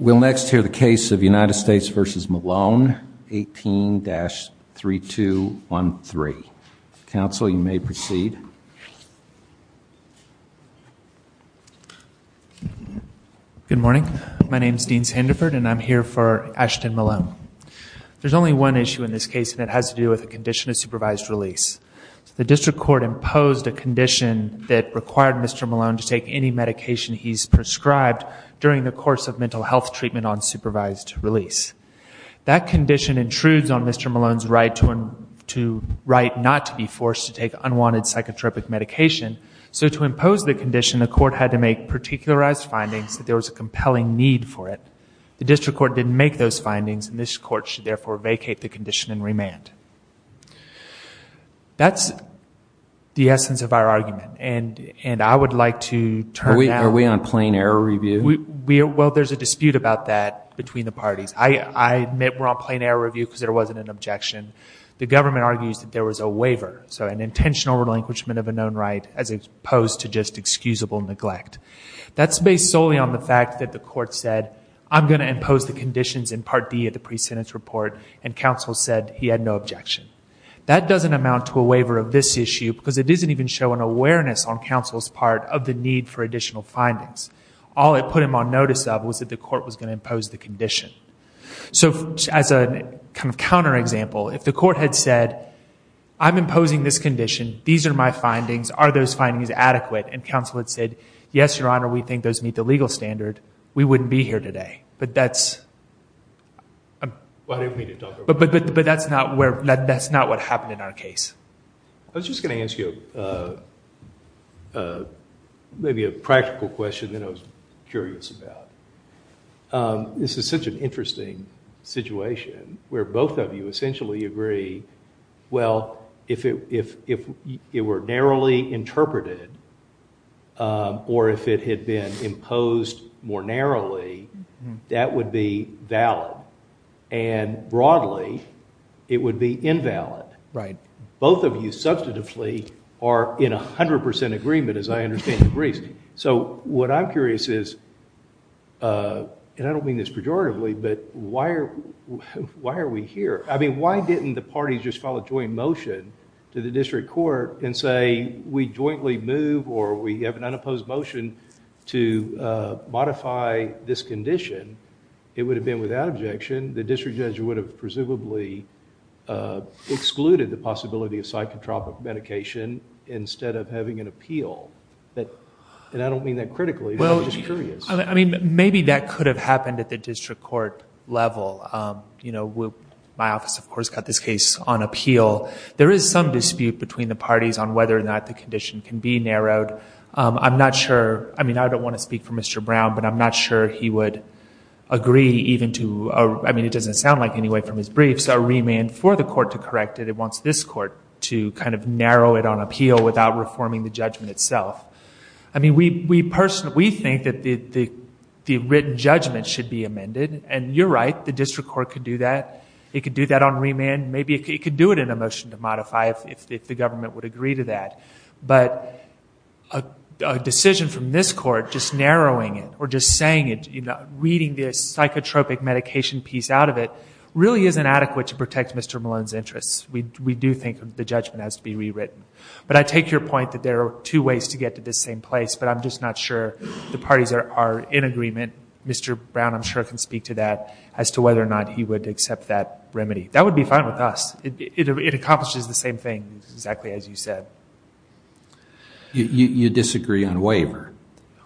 We'll next hear the case of United States v. Malone, 18-3213. Counsel, you may proceed. Good morning. My name is Dean Sandiford, and I'm here for Ashton Malone. There's only one issue in this case, and it has to do with a condition of supervised release. The district court imposed a condition that required Mr. Malone to take any medication he's prescribed during the course of mental health treatment on supervised release. That condition intrudes on Mr. Malone's right not to be forced to take unwanted psychotropic medication, so to impose the condition, the court had to make particularized findings that there was a compelling need for it. The district court didn't make those findings, and this court should therefore vacate the condition in remand. That's the essence of our argument, and I would like to turn now... Are we on plain error review? Well, there's a dispute about that between the parties. I admit we're on plain error review because there wasn't an objection. The government argues that there was a waiver, so an intentional relinquishment of a known right as opposed to just excusable neglect. That's based solely on the fact that the court said, I'm going to impose the conditions in Part D of the pre-sentence report, and counsel said he had no objection. That doesn't amount to a waiver of this issue because it doesn't even show an awareness on counsel's part of the need for additional findings. All it put him on notice of was that the court was going to impose the condition. So as a kind of counterexample, if the court had said, I'm imposing this condition, these are my findings, are those findings adequate, and counsel had said, yes, Your Honor, we think those meet the legal standard, we wouldn't be here today. But that's not what happened in our case. I was just going to ask you maybe a practical question that I was curious about. This is such an interesting situation where both of you essentially agree, well, if it were narrowly interpreted or if it had been imposed more narrowly, that would be valid. And broadly, it would be invalid. Right. Both of you substantively are in 100% agreement, as I understand, in Greece. So what I'm curious is, and I don't mean this pejoratively, but why are we here? I mean, why didn't the parties just file a joint motion to the district court and say we jointly move or we have an unopposed motion to modify this condition? It would have been without objection. The district judge would have presumably excluded the possibility of psychotropic medication instead of having an appeal. And I don't mean that critically. I'm just curious. I mean, maybe that could have happened at the district court level. My office, of course, got this case on appeal. There is some dispute between the parties on whether or not the condition can be narrowed. I'm not sure. I mean, I don't want to speak for Mr. Brown, but I'm not sure he would agree even to, I mean, it doesn't sound like anyway from his briefs, a remand for the court to correct it. It wants this court to kind of narrow it on appeal without reforming the judgment itself. I mean, we think that the written judgment should be amended, and you're right. The district court could do that. It could do that on remand. Maybe it could do it in a motion to modify if the government would agree to that. But a decision from this court just narrowing it or just saying it, reading the psychotropic medication piece out of it, really isn't adequate to protect Mr. Malone's interests. We do think the judgment has to be rewritten. But I take your point that there are two ways to get to this same place, but I'm just not sure the parties are in agreement. Mr. Brown, I'm sure, can speak to that as to whether or not he would accept that remedy. That would be fine with us. It accomplishes the same thing exactly as you said. You disagree on waiver.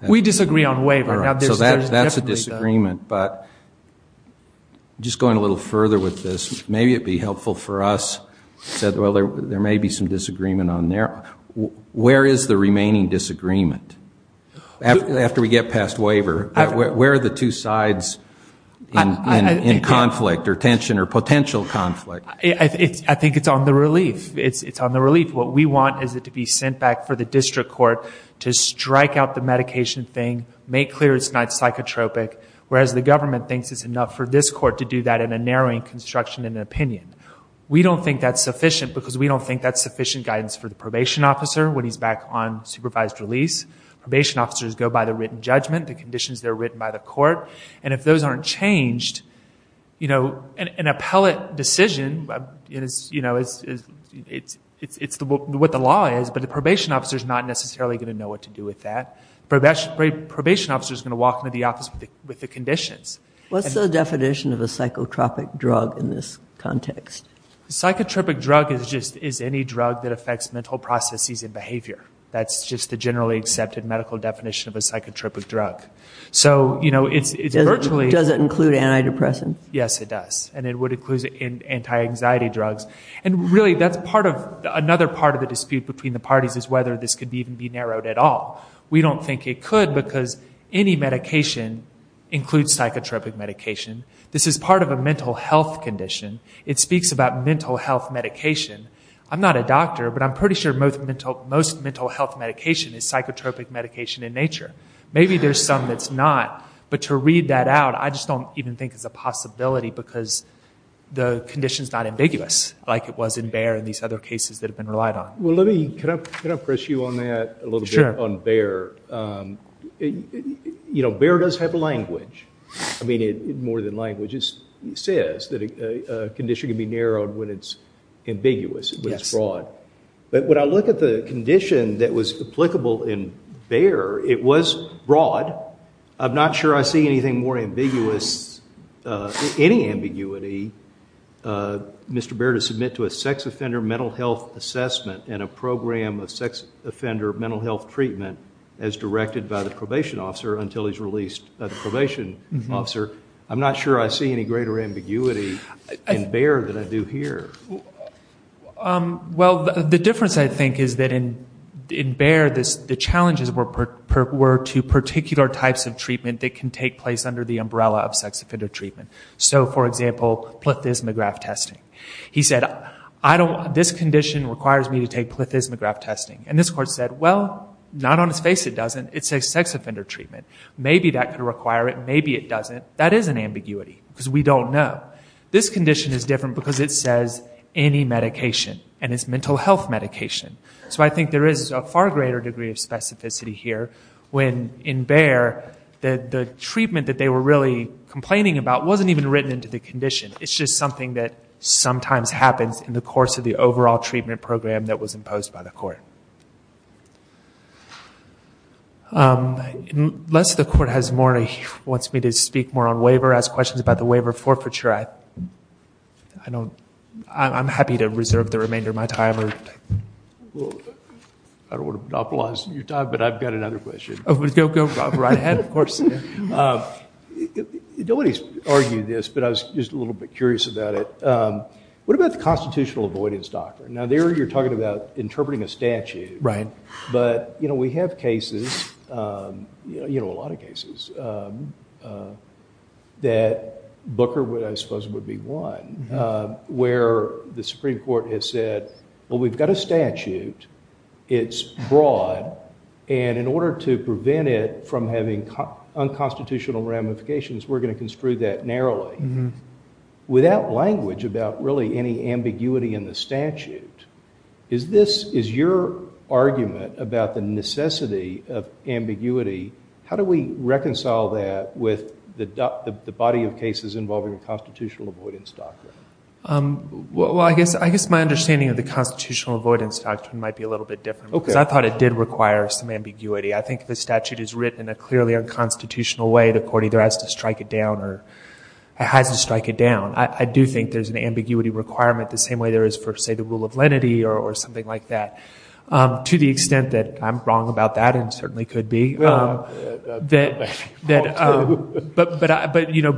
We disagree on waiver. So that's a disagreement. But just going a little further with this, maybe it would be helpful for us. Well, there may be some disagreement on there. Where is the remaining disagreement? After we get past waiver, where are the two sides in conflict or tension or potential conflict? I think it's on the relief. It's on the relief. What we want is it to be sent back for the district court to strike out the medication thing, make clear it's not psychotropic, whereas the government thinks it's enough for this court to do that in a narrowing construction and opinion. We don't think that's sufficient because we don't think that's sufficient guidance for the probation officer when he's back on supervised release. Probation officers go by the written judgment, the conditions that are written by the court, and if those aren't changed, an appellate decision is what the law is, but the probation officer is not necessarily going to know what to do with that. The probation officer is going to walk into the office with the conditions. What's the definition of a psychotropic drug in this context? A psychotropic drug is any drug that affects mental processes and behavior. That's just the generally accepted medical definition of a psychotropic drug. Does it include antidepressants? Yes, it does, and it would include anti-anxiety drugs. Really, another part of the dispute between the parties is whether this could even be narrowed at all. We don't think it could because any medication includes psychotropic medication. This is part of a mental health condition. It speaks about mental health medication. I'm not a doctor, but I'm pretty sure most mental health medication is psychotropic medication in nature. Maybe there's some that's not, but to read that out, I just don't even think it's a possibility because the condition's not ambiguous like it was in Bayer and these other cases that have been relied on. Well, can I press you on that a little bit on Bayer? You know, Bayer does have language. I mean, more than language, it says that a condition can be narrowed when it's ambiguous, when it's broad. But when I look at the condition that was applicable in Bayer, it was broad. I'm not sure I see anything more ambiguous, any ambiguity. Mr. Bayer to submit to a sex offender mental health assessment and a program of sex offender mental health treatment as directed by the probation officer until he's released the probation officer. I'm not sure I see any greater ambiguity in Bayer than I do here. Well, the difference, I think, is that in Bayer the challenges were to particular types of treatment that can take place under the umbrella of sex offender treatment. So, for example, plethysmograph testing. He said, this condition requires me to take plethysmograph testing. And this court said, well, not on its face it doesn't. It's a sex offender treatment. Maybe that could require it, maybe it doesn't. That is an ambiguity because we don't know. This condition is different because it says any medication and it's mental health medication. So I think there is a far greater degree of specificity here when in Bayer that the treatment that they were really complaining about wasn't even written into the condition. It's just something that sometimes happens in the course of the overall treatment program that was imposed by the court. Unless the court wants me to speak more on waiver, ask questions about the waiver forfeiture, I'm happy to reserve the remainder of my time. I don't want to monopolize your time, but I've got another question. Go right ahead, of course. Nobody's argued this, but I was just a little bit curious about it. What about the constitutional avoidance doctrine? Now, there you're talking about interpreting a statute, but we have cases, a lot of cases, that Booker, I suppose, would be one where the Supreme Court has said, well, we've got a statute. It's broad. And in order to prevent it from having unconstitutional ramifications, we're going to construe that narrowly. Without language about really any ambiguity in the statute, is your argument about the necessity of ambiguity, how do we reconcile that with the body of cases involving a constitutional avoidance doctrine? Well, I guess my understanding of the constitutional avoidance doctrine might be a little bit different because I thought it did require some ambiguity. I think the statute is written in a clearly unconstitutional way. The court either has to strike it down or has to strike it down. I do think there's an ambiguity requirement the same way there is for, say, the rule of lenity or something like that, to the extent that I'm wrong about that and certainly could be. But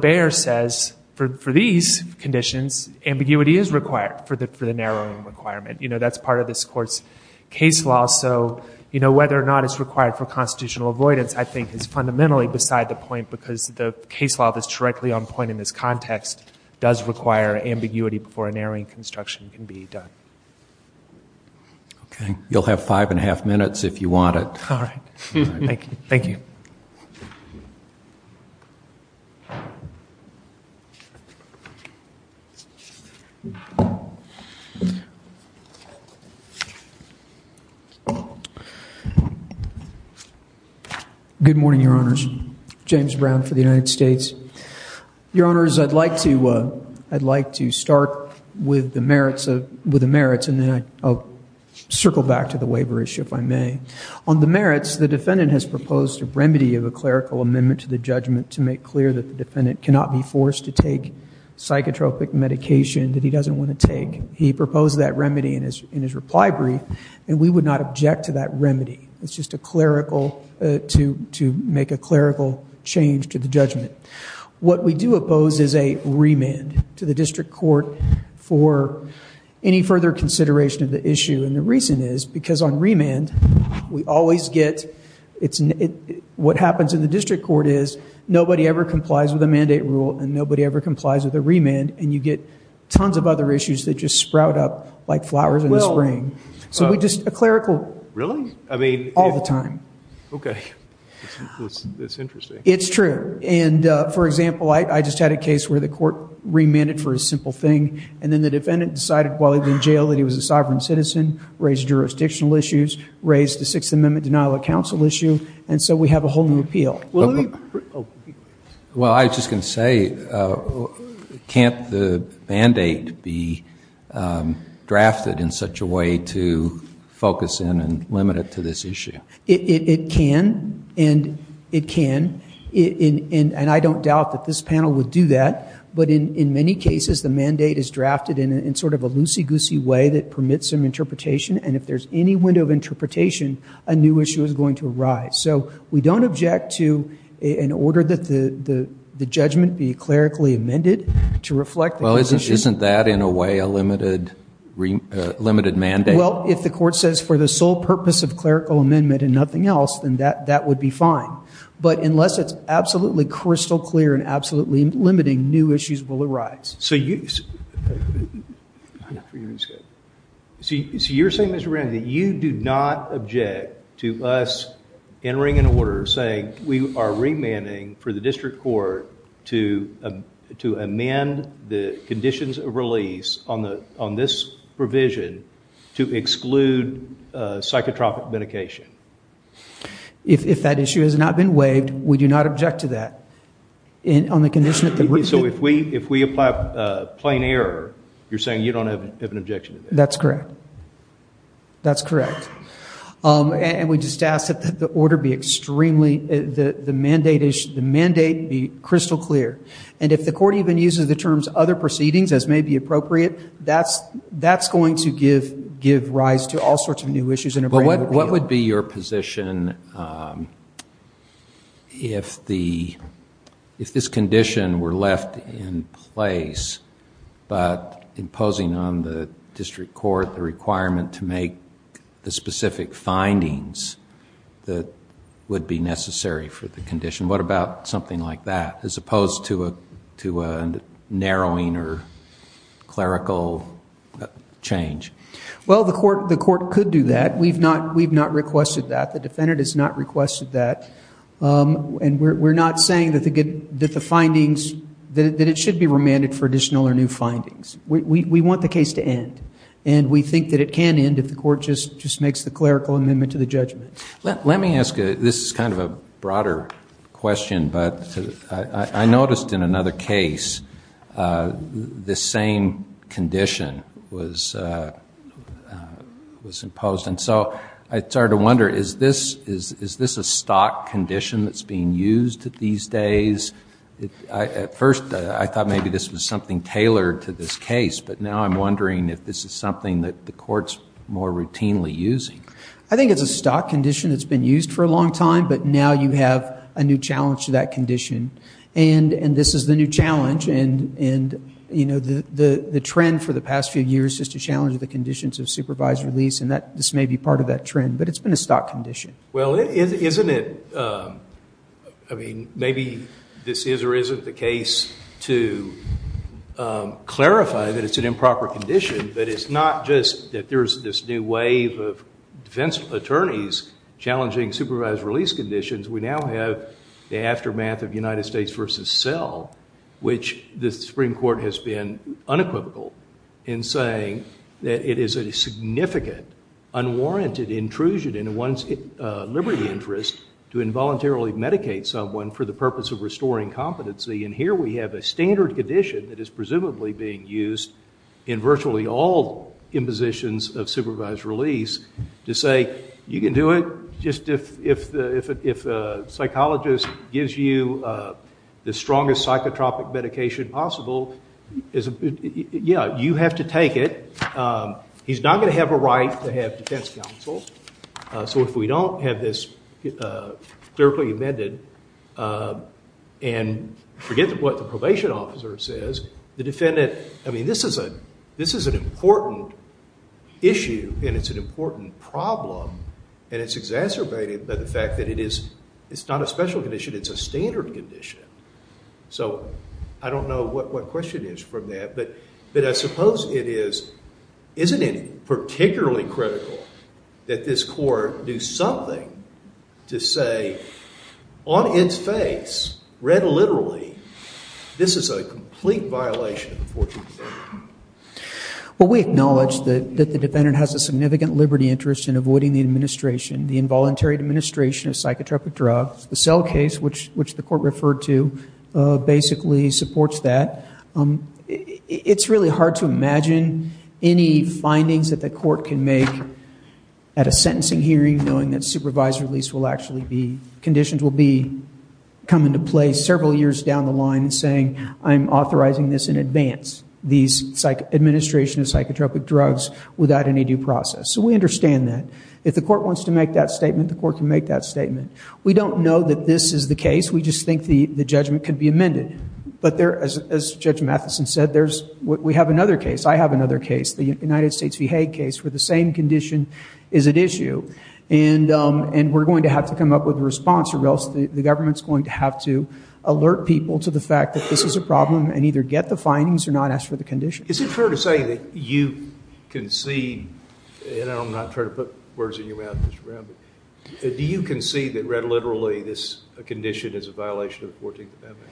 Bayer says for these conditions, ambiguity is required for the narrowing requirement. You know, that's part of this Court's case law. So, you know, whether or not it's required for constitutional avoidance, I think, is fundamentally beside the point because the case law that's directly on point in this context does require ambiguity before a narrowing construction can be done. Okay. You'll have five and a half minutes if you want it. All right. Thank you. Good morning, Your Honors. James Brown for the United States. Your Honors, I'd like to start with the merits and then I'll circle back to the waiver issue if I may. On the merits, the defendant has proposed a remedy of a clerical amendment to the judgment to make clear that the defendant cannot be forced to take psychotropic medication that he doesn't want to take. He proposed that remedy in his reply brief and we would not object to that remedy. It's just a clerical, to make a clerical change to the judgment. What we do oppose is a remand to the district court for any further consideration of the issue. And the reason is because on remand, we always get, what happens in the district court is, nobody ever complies with a mandate rule and nobody ever complies with a remand and you get tons of other issues that just sprout up like flowers in the spring. So we just, a clerical, all the time. Okay. That's interesting. It's true. And, for example, I just had a case where the court remanded for a simple thing and then the defendant decided while he was in jail that he was a sovereign citizen, raised jurisdictional issues, raised the Sixth Amendment denial of counsel issue, and so we have a whole new appeal. Well, I was just going to say, can't the mandate be drafted in such a way to focus in and limit it to this issue? It can and it can. And I don't doubt that this panel would do that. But in many cases, the mandate is drafted in sort of a loosey-goosey way that permits some interpretation, and if there's any window of interpretation, a new issue is going to arise. So we don't object to an order that the judgment be clerically amended to reflect the position. Well, isn't that, in a way, a limited mandate? Well, if the court says for the sole purpose of clerical amendment and nothing else, then that would be fine. But unless it's absolutely crystal clear and absolutely limiting, new issues will arise. So you're saying, Mr. Rand, that you do not object to us entering an order saying we are remanding for the district court to amend the conditions of release on this provision to exclude psychotropic medication? If that issue has not been waived, we do not object to that. So if we apply plain error, you're saying you don't have an objection to that? That's correct. That's correct. And we just ask that the mandate be crystal clear. And if the court even uses the terms other proceedings, as may be appropriate, that's going to give rise to all sorts of new issues in a brand new way. What would be your position if this condition were left in place, but imposing on the district court the requirement to make the specific findings that would be necessary for the condition? What about something like that, as opposed to a narrowing or clerical change? Well, the court could do that. We've not requested that. The defendant has not requested that. And we're not saying that it should be remanded for additional or new findings. We want the case to end, and we think that it can end if the court just makes the clerical amendment to the judgment. Let me ask you, this is kind of a broader question, but I noticed in another case the same condition was imposed. And so I started to wonder, is this a stock condition that's being used these days? At first I thought maybe this was something tailored to this case, but now I'm wondering if this is something that the court's more routinely using. I think it's a stock condition that's been used for a long time, but now you have a new challenge to that condition. And this is the new challenge, and the trend for the past few years is to challenge the conditions of supervised release, and this may be part of that trend, but it's been a stock condition. Well, isn't it, I mean, maybe this is or isn't the case to clarify that it's an improper condition, but it's not just that there's this new wave of defense attorneys challenging supervised release conditions. We now have the aftermath of United States v. Sell, which the Supreme Court has been unequivocal in saying that it is a significant, unwarranted intrusion in one's liberty interest to involuntarily medicate someone for the purpose of restoring competency. And here we have a standard condition that is presumably being used in virtually all impositions of supervised release to say you can do it just if a psychologist gives you the strongest psychotropic medication possible. Yeah, you have to take it. He's not going to have a right to have defense counsel, so if we don't have this clearly amended and forget what the probation officer says, the defendant, I mean, this is an important issue, and it's an important problem, and it's exacerbated by the fact that it's not a special condition, it's a standard condition. So I don't know what question is from that, but I suppose it is, isn't it particularly critical that this court do something to say, on its face, read literally, this is a complete violation of the 14th Amendment? Well, we acknowledge that the defendant has a significant liberty interest in avoiding the administration, the involuntary administration of psychotropic drugs. The Sell case, which the court referred to, basically supports that. It's really hard to imagine any findings that the court can make at a sentencing hearing knowing that supervised release conditions will come into play several years down the line saying I'm authorizing this in advance, these administration of psychotropic drugs, without any due process. So we understand that. If the court wants to make that statement, the court can make that statement. We don't know that this is the case. We just think the judgment could be amended. But as Judge Matheson said, we have another case, I have another case, the United States v. Hague case where the same condition is at issue, and we're going to have to come up with a response or else the government's going to have to alert people to the fact that this is a problem and either get the findings or not ask for the condition. Is it fair to say that you concede, and I'm not trying to put words in your mouth, Mr. Brown, but do you concede that read literally this condition is a violation of 14th Amendment?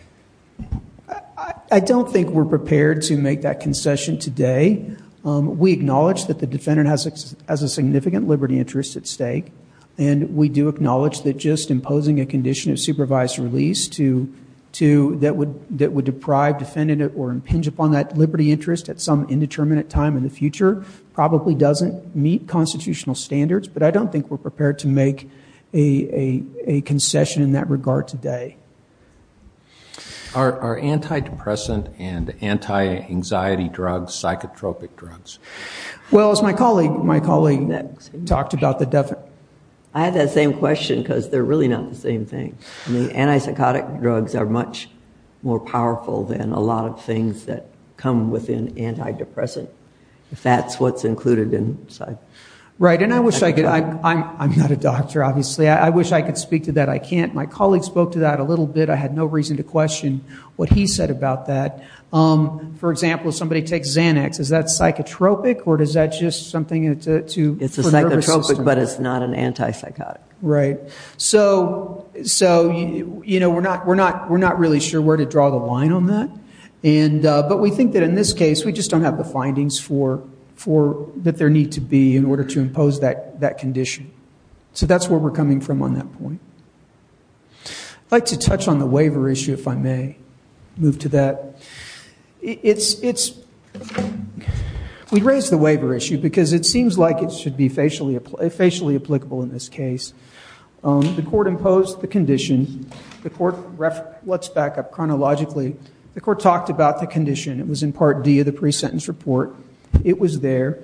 I don't think we're prepared to make that concession today. We acknowledge that the defendant has a significant liberty interest at stake, and we do acknowledge that just imposing a condition of supervised release that would deprive defendant or impinge upon that liberty interest at some indeterminate time in the future probably doesn't meet constitutional standards, but I don't think we're prepared to make a concession in that regard today. Are antidepressant and anti-anxiety drugs psychotropic drugs? Well, as my colleague talked about, the definite... I had that same question because they're really not the same thing. I mean, antipsychotic drugs are much more powerful than a lot of things that come within antidepressant, if that's what's included inside. Right, and I wish I could... I'm not a doctor, obviously. I wish I could speak to that. I can't. My colleague spoke to that a little bit. I had no reason to question what he said about that. For example, if somebody takes Xanax, is that psychotropic or is that just something to... It's a psychotropic, but it's not an antipsychotic. Right. So, you know, we're not really sure where to draw the line on that, but we think that in this case we just don't have the findings for... that there need to be in order to impose that condition. So that's where we're coming from on that point. I'd like to touch on the waiver issue, if I may. Move to that. We raised the waiver issue because it seems like it should be facially applicable in this case. The court imposed the condition. Let's back up chronologically. The court talked about the condition. It was in Part D of the pre-sentence report. It was there.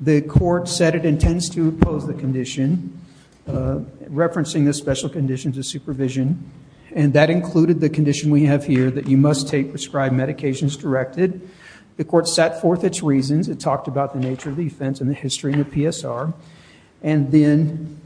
The court said it intends to impose the condition, referencing the special conditions of supervision, and that included the condition we have here that you must take prescribed medications directed. The court set forth its reasons. It talked about the nature of the offense and the history and the PSR. And then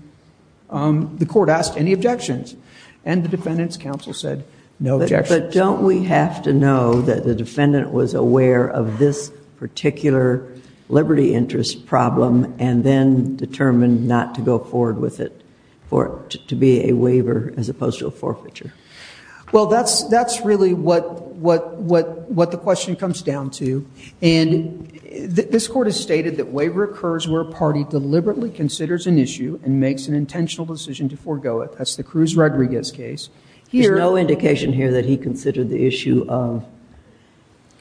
the court asked any objections, and the defendant's counsel said no objections. But don't we have to know that the defendant was aware of this particular liberty interest problem and then determined not to go forward with it, for it to be a waiver as opposed to a forfeiture? Well, that's really what the question comes down to. And this court has stated that waiver occurs where a party deliberately considers an issue and makes an intentional decision to forego it. That's the Cruz-Rodriguez case. There's no indication here that he considered the issue of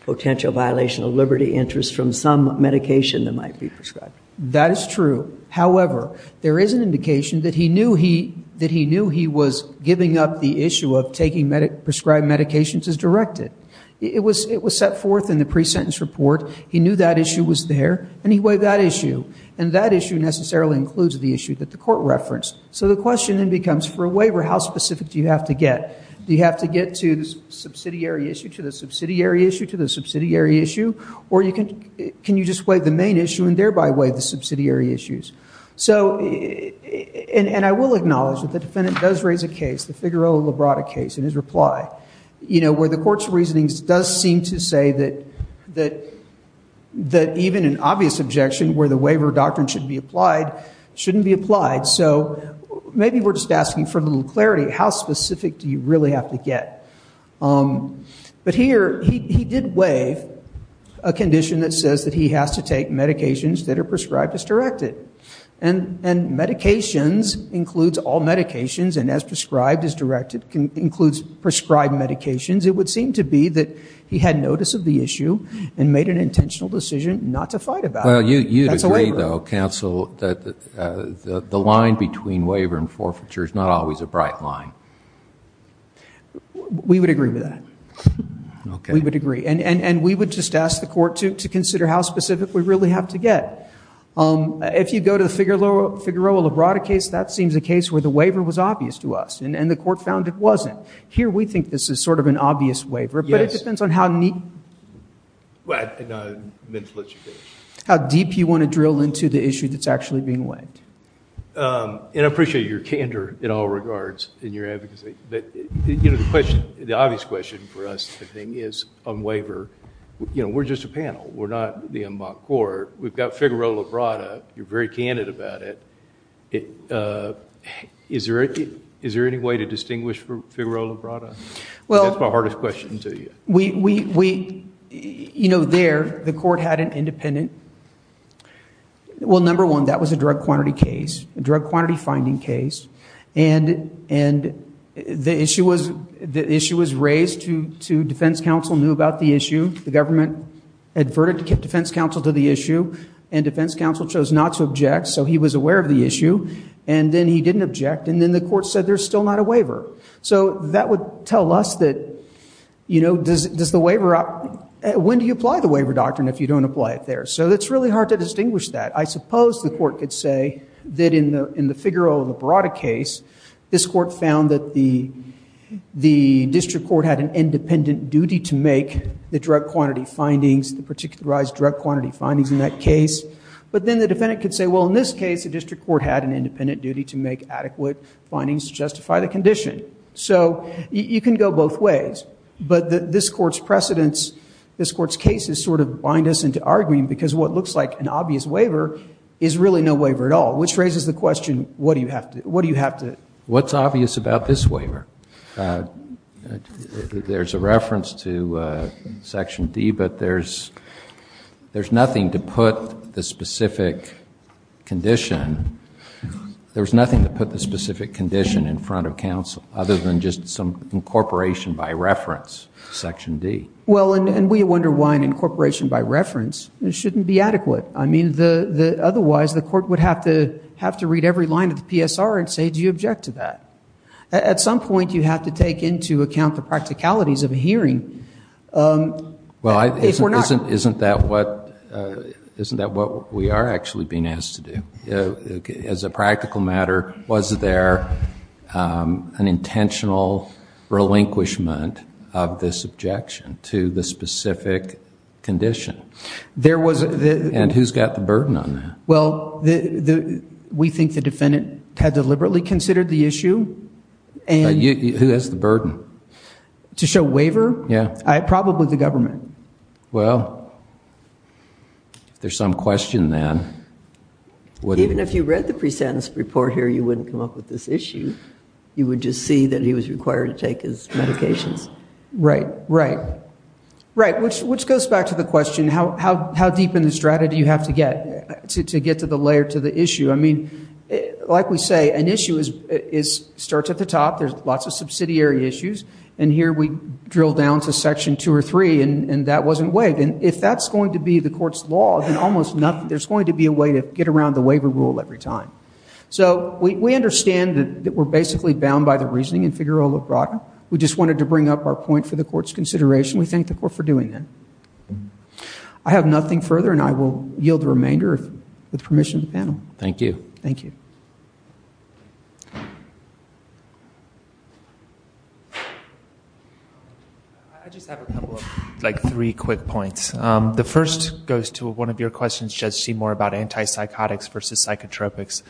potential violation of liberty interest from some medication that might be prescribed. That is true. However, there is an indication that he knew he was giving up the issue of taking prescribed medications as directed. It was set forth in the pre-sentence report. He knew that issue was there, and he waived that issue. And that issue necessarily includes the issue that the court referenced. So the question then becomes, for a waiver, how specific do you have to get? Do you have to get to the subsidiary issue, to the subsidiary issue, to the subsidiary issue? Or can you just waive the main issue and thereby waive the subsidiary issues? And I will acknowledge that the defendant does raise a case, the Figueroa-Librata case, in his reply, where the court's reasoning does seem to say that even an obvious objection where the waiver doctrine should be applied shouldn't be applied. So maybe we're just asking for a little clarity. How specific do you really have to get? But here he did waive a condition that says that he has to take medications that are prescribed as directed. And medications includes all medications, and as prescribed as directed includes prescribed medications. It would seem to be that he had notice of the issue and made an intentional decision not to fight about it. Well, you'd agree, though, counsel, that the line between waiver and forfeiture is not always a bright line. We would agree with that. We would agree. And we would just ask the court to consider how specific we really have to get. If you go to the Figueroa-Librata case, that seems a case where the waiver was obvious to us, and the court found it wasn't. Here we think this is sort of an obvious waiver. Yes. I meant to let you finish. How deep you want to drill into the issue that's actually being weighed. And I appreciate your candor in all regards in your advocacy. But the obvious question for us, I think, is on waiver. We're just a panel. We're not the en banc court. We've got Figueroa-Librata. You're very candid about it. Is there any way to distinguish from Figueroa-Librata? That's my hardest question to you. There, the court had an independent. Well, number one, that was a drug quantity case, a drug quantity finding case. And the issue was raised to defense counsel knew about the issue. The government adverted defense counsel to the issue. And defense counsel chose not to object. So he was aware of the issue. And then he didn't object. And then the court said there's still not a waiver. So that would tell us that when do you apply the waiver doctrine if you don't apply it there? So it's really hard to distinguish that. I suppose the court could say that in the Figueroa-Librata case, this court found that the district court had an independent duty to make the drug quantity findings, the particularized drug quantity findings in that case. But then the defendant could say, well, in this case, the district court had an independent duty to make adequate findings to justify the condition. So you can go both ways. But this court's precedents, this court's cases sort of bind us into arguing, because what looks like an obvious waiver is really no waiver at all, which raises the question, what do you have to do? What's obvious about this waiver? There's a reference to Section D, but there's nothing to put the specific condition in front of counsel other than just some incorporation by reference, Section D. Well, and we wonder why an incorporation by reference shouldn't be adequate. I mean, otherwise the court would have to read every line of the PSR and say, do you object to that? At some point you have to take into account the practicalities of a hearing. Well, isn't that what we are actually being asked to do? As a practical matter, was there an intentional relinquishment of this objection to the specific condition? And who's got the burden on that? Well, we think the defendant had deliberately considered the issue. Who has the burden? To show waiver? Yeah. Probably the government. Well, if there's some question then. Even if you read the presentence report here, you wouldn't come up with this issue. You would just see that he was required to take his medications. Right, right. Right, which goes back to the question, how deep in the strata do you have to get to get to the layer, to the issue? I mean, like we say, an issue starts at the top. There's lots of subsidiary issues. And here we drill down to Section 2 or 3, and that wasn't waived. And if that's going to be the court's law, then almost nothing, there's going to be a way to get around the waiver rule every time. So we understand that we're basically bound by the reasoning in Figaro La Braga. We just wanted to bring up our point for the court's consideration. We thank the court for doing that. I have nothing further, and I will yield the remainder with permission of the panel. Thank you. Thank you. I just have a couple of, like three quick points. The first goes to one of your questions, Judge Seymour, about antipsychotics versus psychotropics.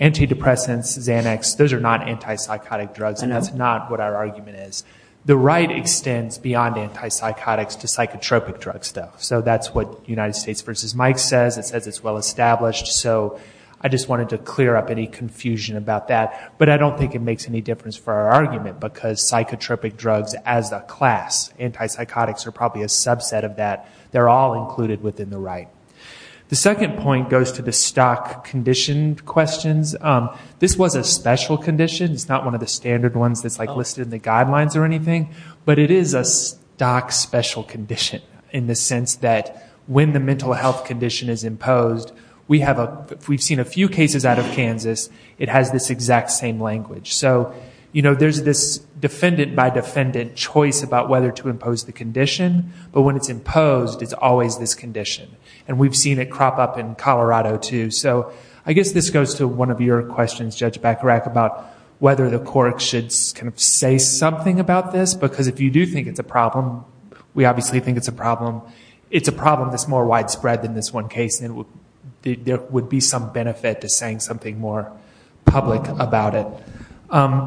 Antidepressants, Xanax, those are not antipsychotic drugs, and that's not what our argument is. The right extends beyond antipsychotics to psychotropic drugs, though. So that's what United States v. Mike says. It says it's well established. So I just wanted to clear up any confusion about that. But I don't think it makes any difference for our argument, because psychotropic drugs as a class, antipsychotics are probably a subset of that. They're all included within the right. The second point goes to the stock condition questions. This was a special condition. It's not one of the standard ones that's listed in the guidelines or anything, but it is a stock special condition in the sense that when the mental health condition is imposed, we've seen a few cases out of Kansas, it has this exact same language. So there's this defendant-by-defendant choice about whether to impose the condition, but when it's imposed, it's always this condition. And we've seen it crop up in Colorado, too. So I guess this goes to one of your questions, Judge Bacharach, about whether the court should kind of say something about this, because if you do think it's a problem, we obviously think it's a problem. It's a problem that's more widespread than this one case, and there would be some benefit to saying something more public about it.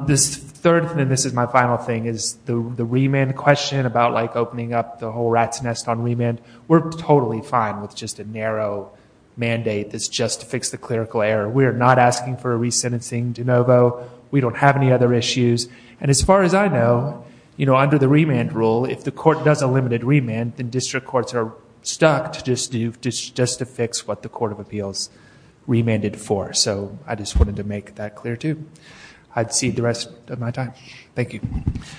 This third thing, and this is my final thing, is the remand question about, like, opening up the whole rat's nest on remand. We're totally fine with just a narrow mandate that's just to fix the clerical error. We're not asking for a resentencing de novo. We don't have any other issues. And as far as I know, you know, under the remand rule, if the court does a limited remand, then district courts are stuck just to fix what the court of appeals remanded for. So I just wanted to make that clear, too. I'd cede the rest of my time. Thank you.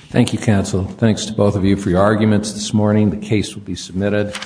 Thank you, counsel. Thanks to both of you for your arguments this morning. The case will be submitted.